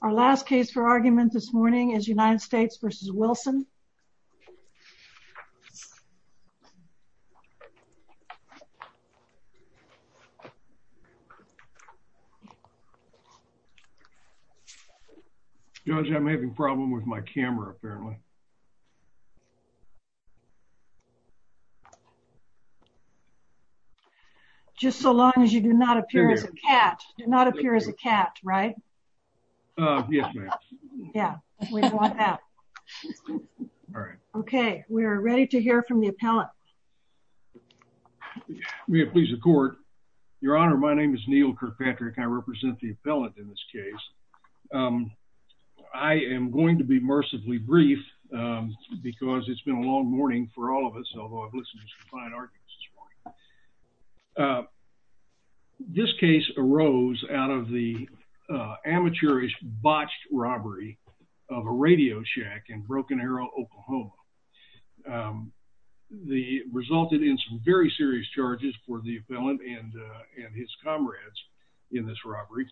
Our last case for argument this morning is United States v. Wilson. Judge, I'm having a problem with my camera, apparently. Just so long as you do not appear as a cat, do not appear as a cat, right? Yes, ma'am. Yeah, we want that. All right. Okay, we're ready to hear from the appellate. May it please the court. Your Honor, my name is Neil Kirkpatrick, I represent the appellate in this case. I am going to be mercifully brief because it's been a long morning for all of us, although I've listened to some fine arguments this morning. This case arose out of the amateurish botched robbery of a radio shack in Broken Arrow, Oklahoma. It resulted in some very serious charges for the appellant and his comrades in this robbery.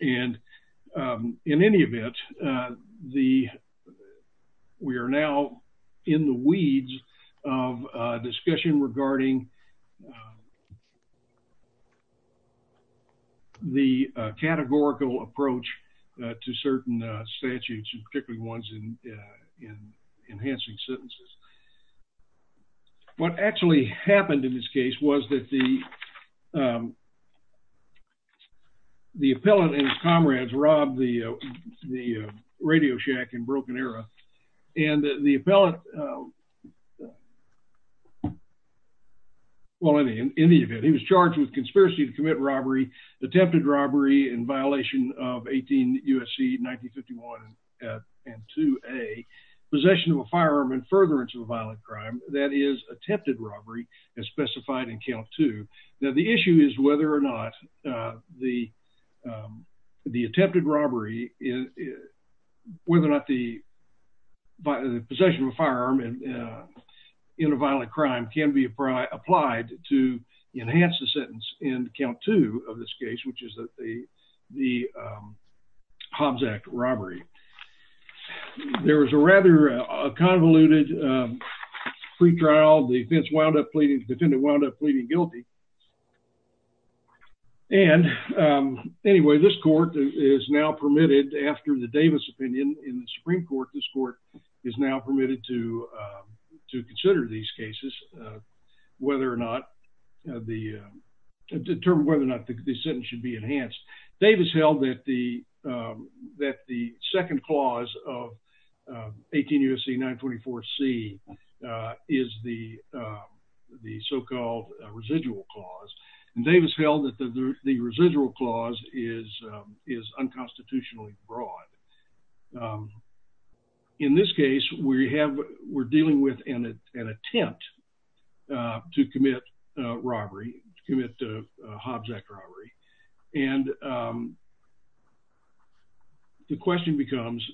And in any event, we are now in the weeds of discussion regarding the categorical approach to certain statutes, particularly ones in enhancing sentences. What actually happened in this case was that the appellant and his comrades robbed the radio shack in Broken Arrow. And the appellant, well in any event, he was charged with conspiracy to commit robbery, attempted robbery in violation of 18 U.S.C. 1951 and 2A, possession of a firearm and furtherance of a violent crime, that is attempted robbery as specified in count two. Now the issue is whether or not the attempted robbery, whether or not the possession of a firearm in a violent crime can be applied to enhance the sentence in count two of this case, which is the Hobbs Act robbery. There was a rather convoluted pretrial. The defendant wound up pleading guilty. And anyway, this court is now permitted, after the Davis opinion in the Supreme Court, this court is now permitted to consider these cases, determine whether or not the sentence should be enhanced. Davis held that the second clause of 18 U.S.C. 924C is the so-called residual clause. And Davis held that the residual clause is unconstitutionally broad. In this case, we're dealing with an attempt to commit robbery, commit Hobbs Act robbery. And the question becomes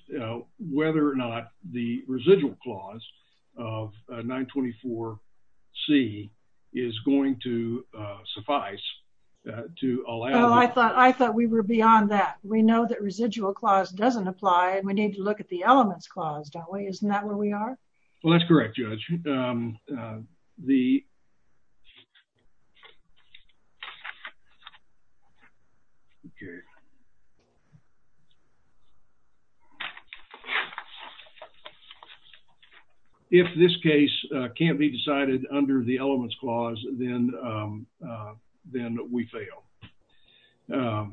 whether or not the residual clause of 924C is going to suffice to allow- I thought we were beyond that. We know that residual clause doesn't apply and we need to look at the elements clause, don't we? Isn't that where we are? Well, that's correct, Judge. If this case can't be decided under the elements clause, then we fail.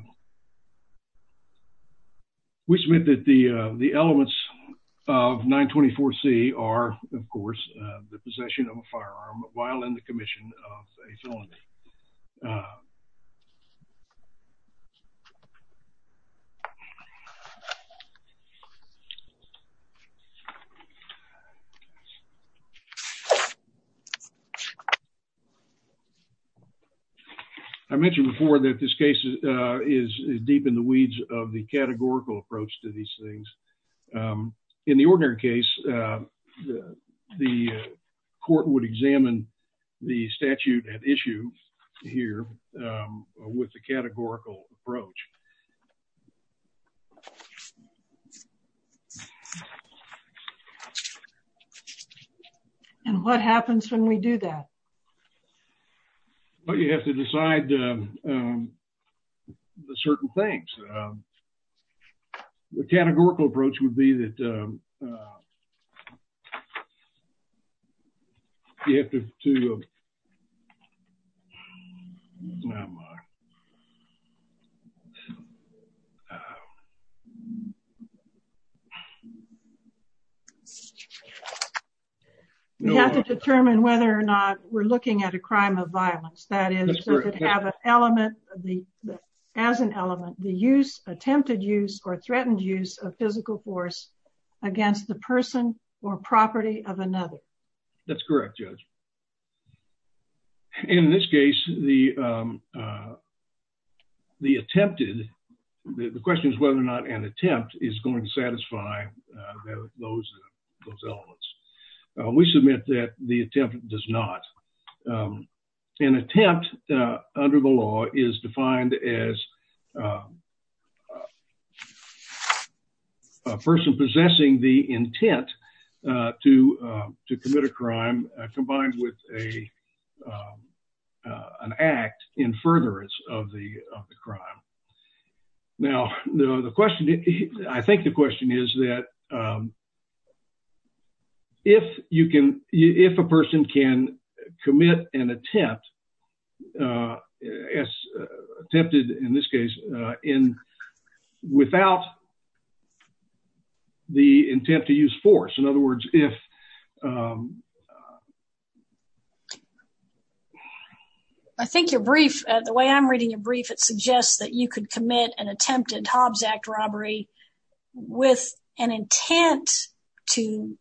We submit that the elements of 924C are, of course, the possession of a firearm while in the commission of a felony. I mentioned before that this case is deep in the weeds of the categorical approach to these things. In the ordinary case, the court would examine the statute at issue here with the categorical approach. And what happens when we do that? Well, you have to decide certain things. The categorical approach would be that you have to- We have to determine whether or not we're looking at a crime of violence. That is, does it have an element, as an element, the use, attempted use, or threatened use of physical force against the person or property of another? That's correct, Judge. In this case, the attempted, the question is whether or not an attempt is going to satisfy those elements. We submit that the attempt does not. An attempt under the law is defined as a person possessing the intent to commit a crime combined with an act in furtherance of the crime. Now, I think the question is that if a person can commit an attempt, attempted in this case, without the intent to use force, in other words, if- I think your brief, the way I'm reading your brief, it suggests that you could commit an attempted Hobbs Act robbery with an intent to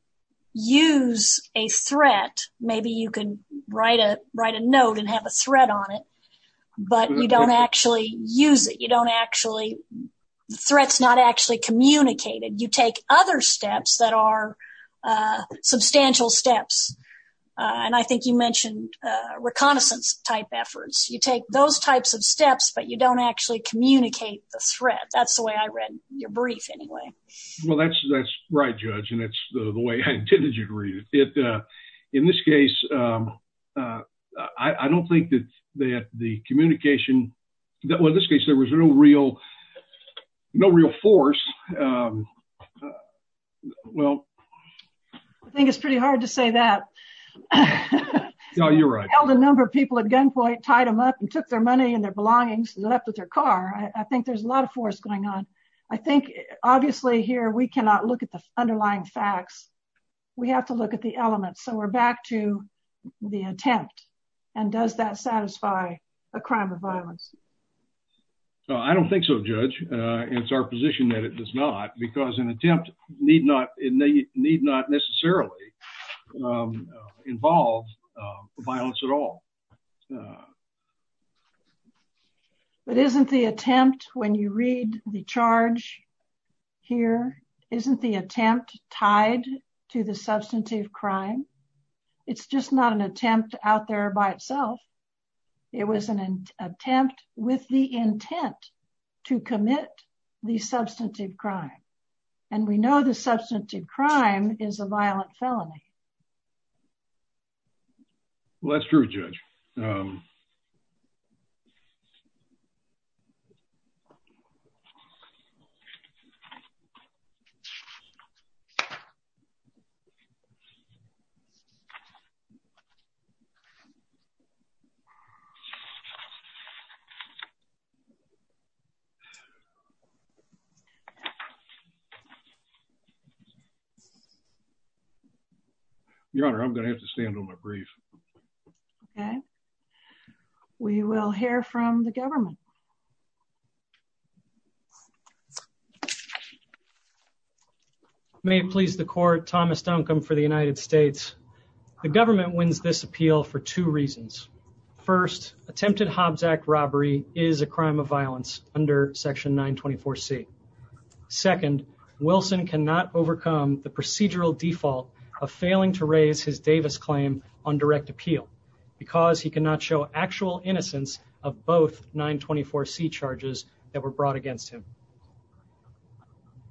use a threat. Maybe you could write a note and have a threat on it, but you don't actually use it. You don't actually- the threat's not actually communicated. You take other steps that are substantial steps, and I think you mentioned reconnaissance-type efforts. You take those types of steps, but you don't actually communicate the threat. That's the way I read your brief, anyway. Well, that's right, Judge, and that's the way I intended you to read it. In this case, I don't think that the communication- well, in this case, there was no real force. I think it's pretty hard to say that. No, you're right. A number of people at gunpoint tied them up and took their money and their belongings and left with their car. I think there's a lot of force going on. I think, obviously, here, we cannot look at the underlying facts. We have to look at the elements, so we're back to the attempt, and does that satisfy a crime of violence? I don't think so, Judge. It's our position that it does not, because an attempt need not necessarily involve violence at all. But isn't the attempt, when you read the charge here, isn't the attempt tied to the substantive crime? It's just not an attempt out there by itself. It was an attempt with the intent to commit the substantive crime, and we know the substantive crime is a violent felony. Well, that's true, Judge. Your Honor, I'm going to have to stand on my brief. Okay. We will hear from the government. May it please the court, Thomas Duncombe for the United States. The government wins this appeal for two reasons. First, attempted Hobbs Act robbery is a crime of violence under Section 924C. Second, Wilson cannot overcome the procedural default of failing to raise his Davis claim on direct appeal, because he cannot show actual innocence of both 924C charges that were brought against him.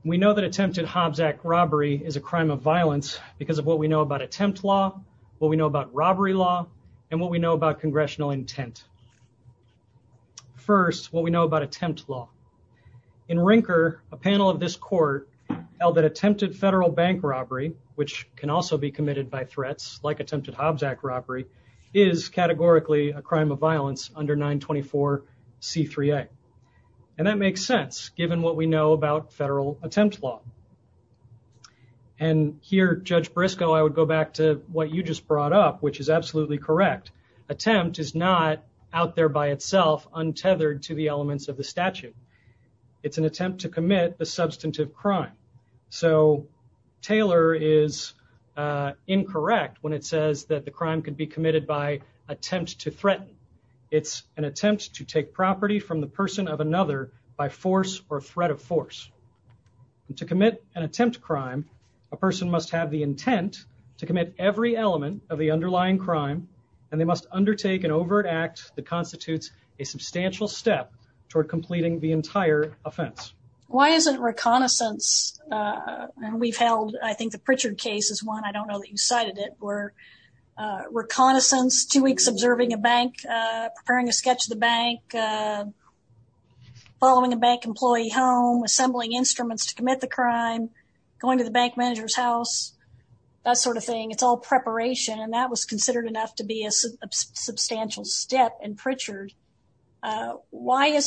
We know that attempted Hobbs Act robbery is a crime of violence because of what we know about attempt law, what we know about robbery law, and what we know about congressional intent. First, what we know about attempt law. In Rinker, a panel of this court held that attempted federal bank robbery, which can also be committed by threats like attempted Hobbs Act robbery, is categorically a crime of violence under 924C3A. And that makes sense, given what we know about federal attempt law. And here, Judge Briscoe, I would go back to what you just brought up, which is absolutely correct. Attempt is not out there by itself, untethered to the elements of the statute. It's an attempt to commit a substantive crime. So, Taylor is incorrect when it says that the crime could be committed by attempt to threaten. It's an attempt to take property from the person of another by force or threat of force. To commit an attempt crime, a person must have the intent to commit every element of the underlying crime and they must undertake an overt act that constitutes a substantial step toward completing the entire offense. Why isn't reconnaissance, and we've held, I think the Pritchard case is one, I don't know that you cited it, where reconnaissance, two weeks observing a bank, preparing a sketch of the bank, following a bank employee home, assembling instruments to commit the crime, going to the bank manager's house, that sort of thing. It's all preparation and that was considered enough to be a substantial step in Pritchard. Why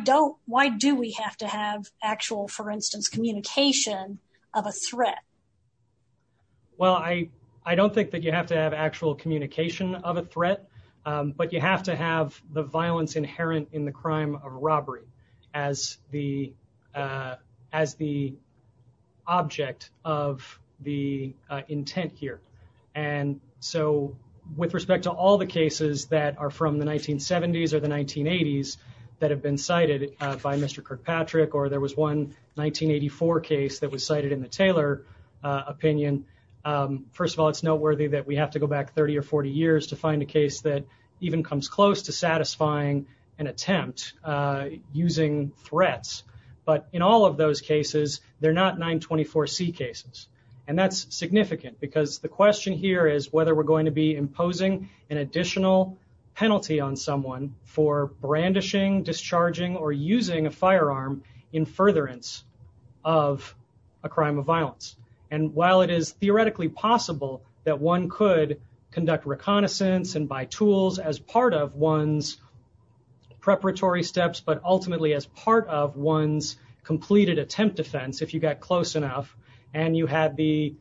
do we have to have actual, for instance, communication of a threat? Well, I don't think that you have to have actual communication of a threat, but you have to have the violence inherent in the crime of robbery as the object of the intent here. And so, with respect to all the cases that are from the 1970s or the 1980s that have been cited by Mr. Kirkpatrick or there was one 1984 case that was cited in the Taylor opinion, first of all, it's noteworthy that we have to go back 30 or 40 years to find a case that even comes close to satisfying an attempt using threats. But in all of those cases, they're not 924C cases. And that's significant because the question here is whether we're going to be imposing an additional penalty on someone for brandishing, discharging, or using a firearm in furtherance of a crime of violence. And while it is theoretically possible that one could conduct reconnaissance and buy tools as part of one's preparatory steps, but ultimately as part of one's completed attempt defense, if you got close enough and you had the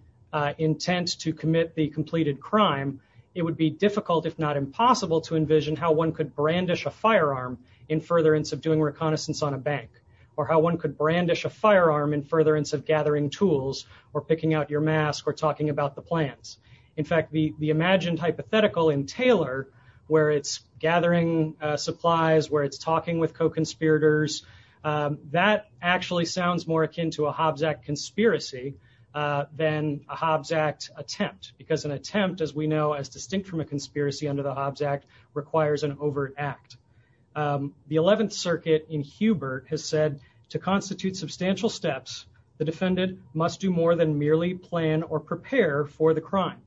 intent to commit the completed crime, it would be difficult, if not impossible, to envision how one could brandish a firearm in furtherance of doing reconnaissance on a bank, or how one could brandish a firearm in furtherance of gathering tools or picking out your mask or talking about the plans. In fact, the imagined hypothetical in Taylor, where it's gathering supplies, where it's talking with co-conspirators, that actually sounds more akin to a Hobbs Act conspiracy than a Hobbs Act attempt, because an attempt, as we know, is distinct from a conspiracy under the Hobbs Act, requires an overt act. The 11th Circuit in Hubert has said, to constitute substantial steps, the defendant must do more than merely plan or prepare for the crime.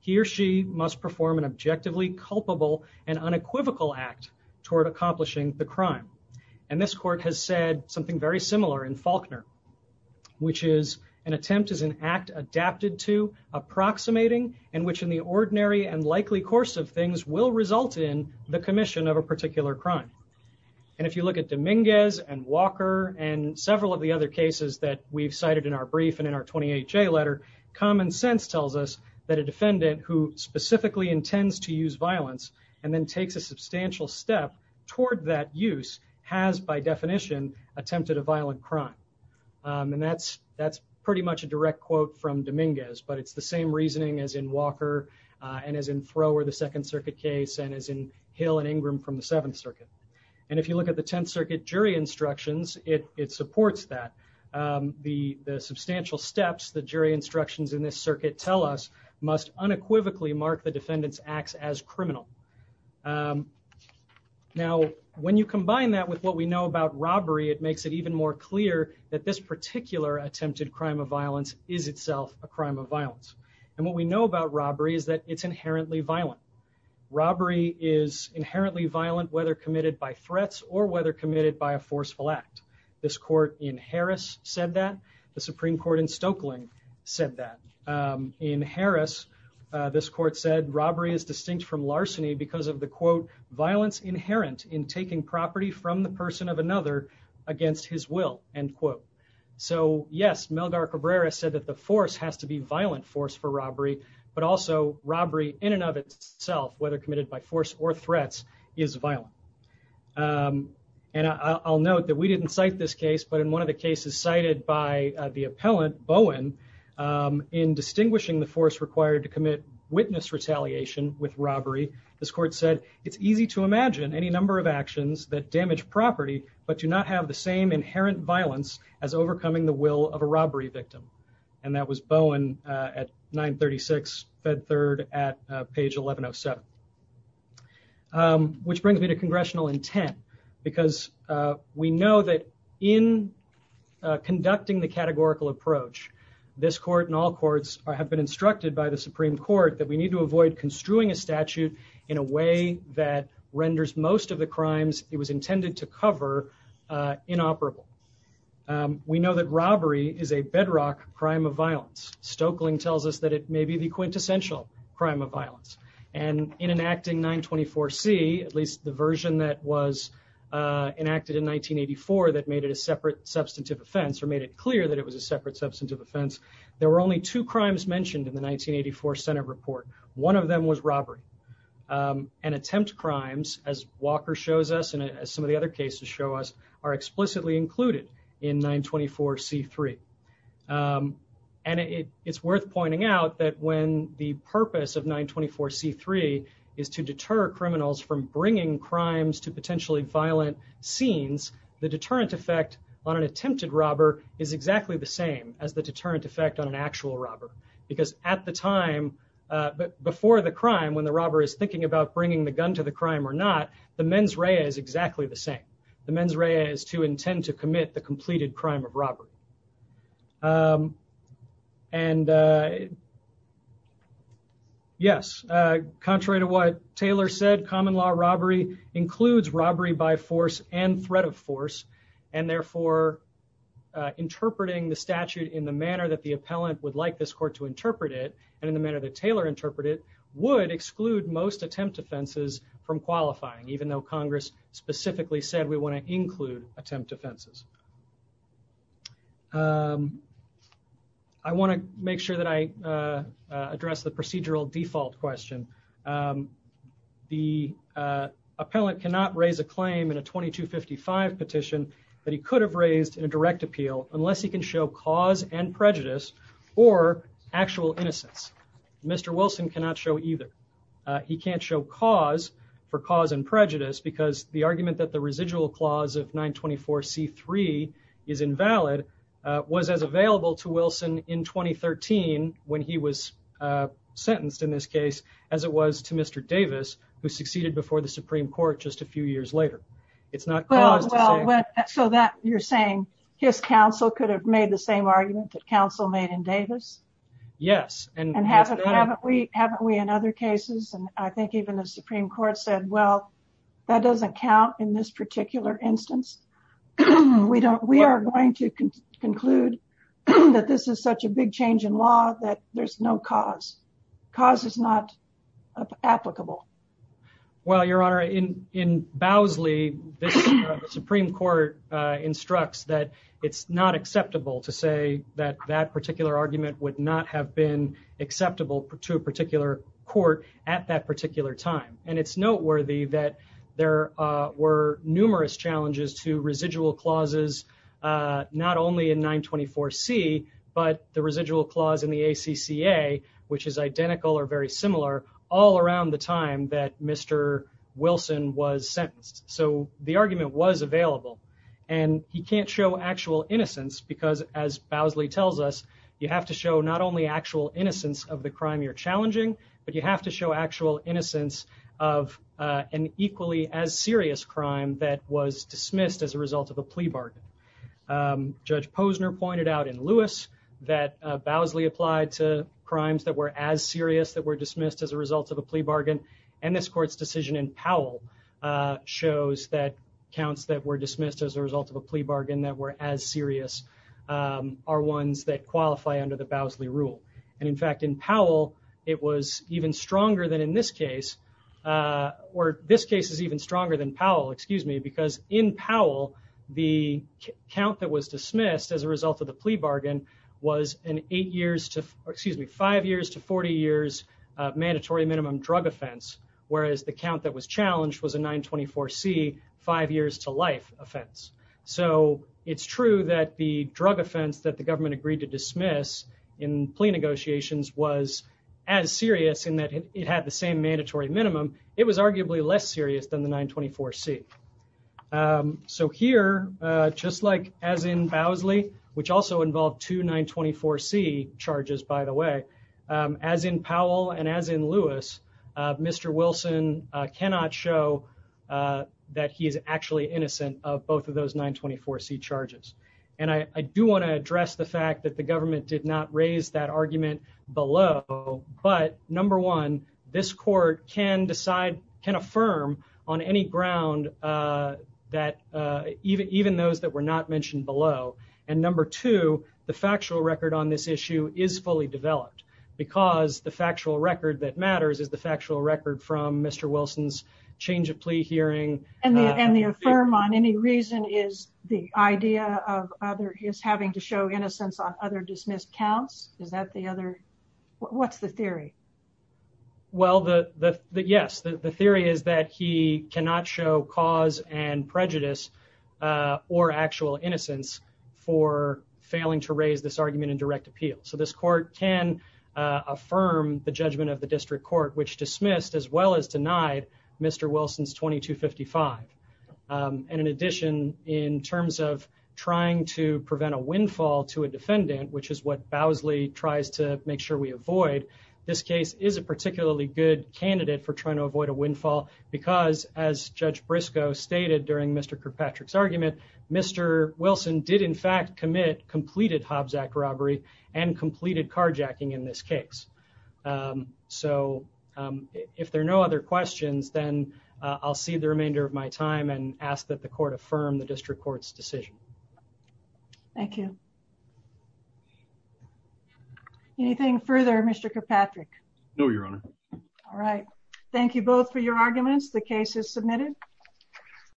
He or she must perform an objectively culpable and unequivocal act toward accomplishing the crime. And this court has said something very similar in Faulkner, which is, an attempt is an act adapted to, approximating, and which in the ordinary and likely course of things will result in the commission of a particular crime. And if you look at Dominguez and Walker and several of the other cases that we've cited in our brief and in our 28-J letter, common sense tells us that a defendant who specifically intends to use violence and then takes a substantial step toward that use, has, by definition, attempted a violent crime. And that's pretty much a direct quote from Dominguez, but it's the same reasoning as in Walker and as in Thrower, the 2nd Circuit case, and as in Hill and Ingram from the 7th Circuit. And if you look at the 10th Circuit jury instructions, it supports that. The substantial steps the jury instructions in this circuit tell us must unequivocally mark the defendant's acts as criminal. Now, when you combine that with what we know about robbery, it makes it even more clear that this particular attempted crime of violence is itself a crime of violence. And what we know about robbery is that it's inherently violent. Robbery is inherently violent whether committed by threats or whether committed by a forceful act. This court in Harris said that. The Supreme Court in Stokely said that. In Harris, this court said, robbery is distinct from larceny because of the, quote, violence inherent in taking property from the person of another against his will, end quote. So, yes, Melgar Cabrera said that the force has to be violent force for robbery, but also robbery in and of itself, whether committed by force or threats, is violent. And I'll note that we didn't cite this case, but in one of the cases cited by the appellant, Bowen, in distinguishing the force required to commit witness retaliation with robbery, this court said, it's easy to imagine any number of actions that damage property, but do not have the same inherent violence as overcoming the will of a robbery victim. And that was Bowen at 936 Fed Third at page 1107. Which brings me to congressional intent, because we know that in conducting the categorical approach, this court and all courts have been instructed by the Supreme Court that we need to avoid construing a statute in a way that renders most of the crimes it was intended to cover inoperable. We know that robbery is a bedrock crime of violence. Stoeckling tells us that it may be the quintessential crime of violence. And in enacting 924C, at least the version that was enacted in 1984 that made it a separate substantive offense, or made it clear that it was a separate substantive offense, there were only two crimes mentioned in the 1984 Senate report. One of them was robbery. And attempt crimes, as Walker shows us, and as some of the other cases show us, are explicitly included in 924C3. And it's worth pointing out that when the purpose of 924C3 is to deter criminals from bringing crimes to potentially violent scenes, the deterrent effect on an attempted robber is exactly the same as the deterrent effect on an actual robber. Because at the time, before the crime, when the robber is thinking about bringing the gun to the crime or not, the mens rea is exactly the same. The mens rea is to intend to commit the completed crime of robbery. And yes, contrary to what Taylor said, common law robbery includes robbery by force and threat of force. And therefore, interpreting the statute in the manner that the appellant would like this court to interpret it, and in the manner that Taylor interpreted it, would exclude most attempt offenses from qualifying, even though Congress specifically said we want to include attempt offenses. I want to make sure that I address the procedural default question. The appellant cannot raise a claim in a 2255 petition that he could have raised in a direct appeal unless he can show cause and prejudice or actual innocence. Mr. Wilson cannot show either. He can't show cause for cause and prejudice because the argument that the residual clause of 924C3 is invalid was as available to Wilson in 2013 when he was sentenced in this case as it was to Mr. Davis, who succeeded before the Supreme Court just a few years later. It's not cause. So you're saying his counsel could have made the same argument that counsel made in Davis? Yes. And haven't we in other cases, and I think even the Supreme Court said, well, that doesn't count in this particular instance. We are going to conclude that this is such a big change in law that there's no cause. Cause is not applicable. Well, Your Honor, in Bowsley, the Supreme Court instructs that it's not acceptable to say that that particular argument would not have been acceptable to a particular court at that particular time. And it's noteworthy that there were numerous challenges to residual clauses, not only in 924C, but the residual clause in the ACCA, which is identical or very similar, all around the time that Mr. Wilson was sentenced. So the argument was available and he can't show actual innocence because as Bowsley tells us, you have to show not only actual innocence of the crime you're challenging, but you have to show actual innocence of an equally as serious crime that was dismissed as a result of a plea bargain. Judge Posner pointed out in Lewis that Bowsley applied to crimes that were as serious that were dismissed as a result of a plea bargain. And this court's decision in Powell shows that counts that were dismissed as a result of a plea bargain that were as serious are ones that qualify under the Bowsley rule. And in fact, in Powell, it was even stronger than in this case, or this case is even stronger than Powell, excuse me, because in Powell, the count that was dismissed as a result of the plea bargain was an eight years to, excuse me, five years to 40 years mandatory minimum drug offense, whereas the count that was challenged was a 924C five years to life offense. So it's true that the drug offense that the government agreed to dismiss in plea negotiations was as serious in that it had the same mandatory minimum. It was arguably less serious than the 924C. So here, just like as in Bowsley, which also involved two 924C charges, by the way, as in Powell and as in Lewis, Mr. Wilson cannot show that he is actually innocent of both of those 924C charges. And I do want to address the fact that the government did not raise that argument below. But number one, this court can decide, can affirm on any ground that even those that were not mentioned below, and number two, the factual record on this issue is fully developed because the factual record that matters is the factual record from Mr. Wilson's change of plea hearing. And the affirm on any reason is the idea of other, he is having to show innocence on other dismissed counts. Is that the other, what's the theory? Well, yes, the theory is that he cannot show cause and prejudice or actual innocence for failing to raise this argument in direct appeal. So this court can affirm the judgment of the district court, which dismissed as well as denied Mr. Wilson's 2255. And in addition, in terms of trying to prevent a windfall to a defendant, which is what Bowsley tries to make sure we avoid. This case is a particularly good candidate for trying to avoid a windfall because as Judge Briscoe stated during Mr. Kirkpatrick's argument, Mr. Wilson did in fact commit, completed Hobbs Act robbery and completed carjacking in this case. So if there are no other questions, then I'll see the remainder of my time and ask that the court affirm the district court's decision. Thank you. Anything further, Mr. Kirkpatrick? No, Your Honor. All right. Thank you both for your arguments. The case is submitted.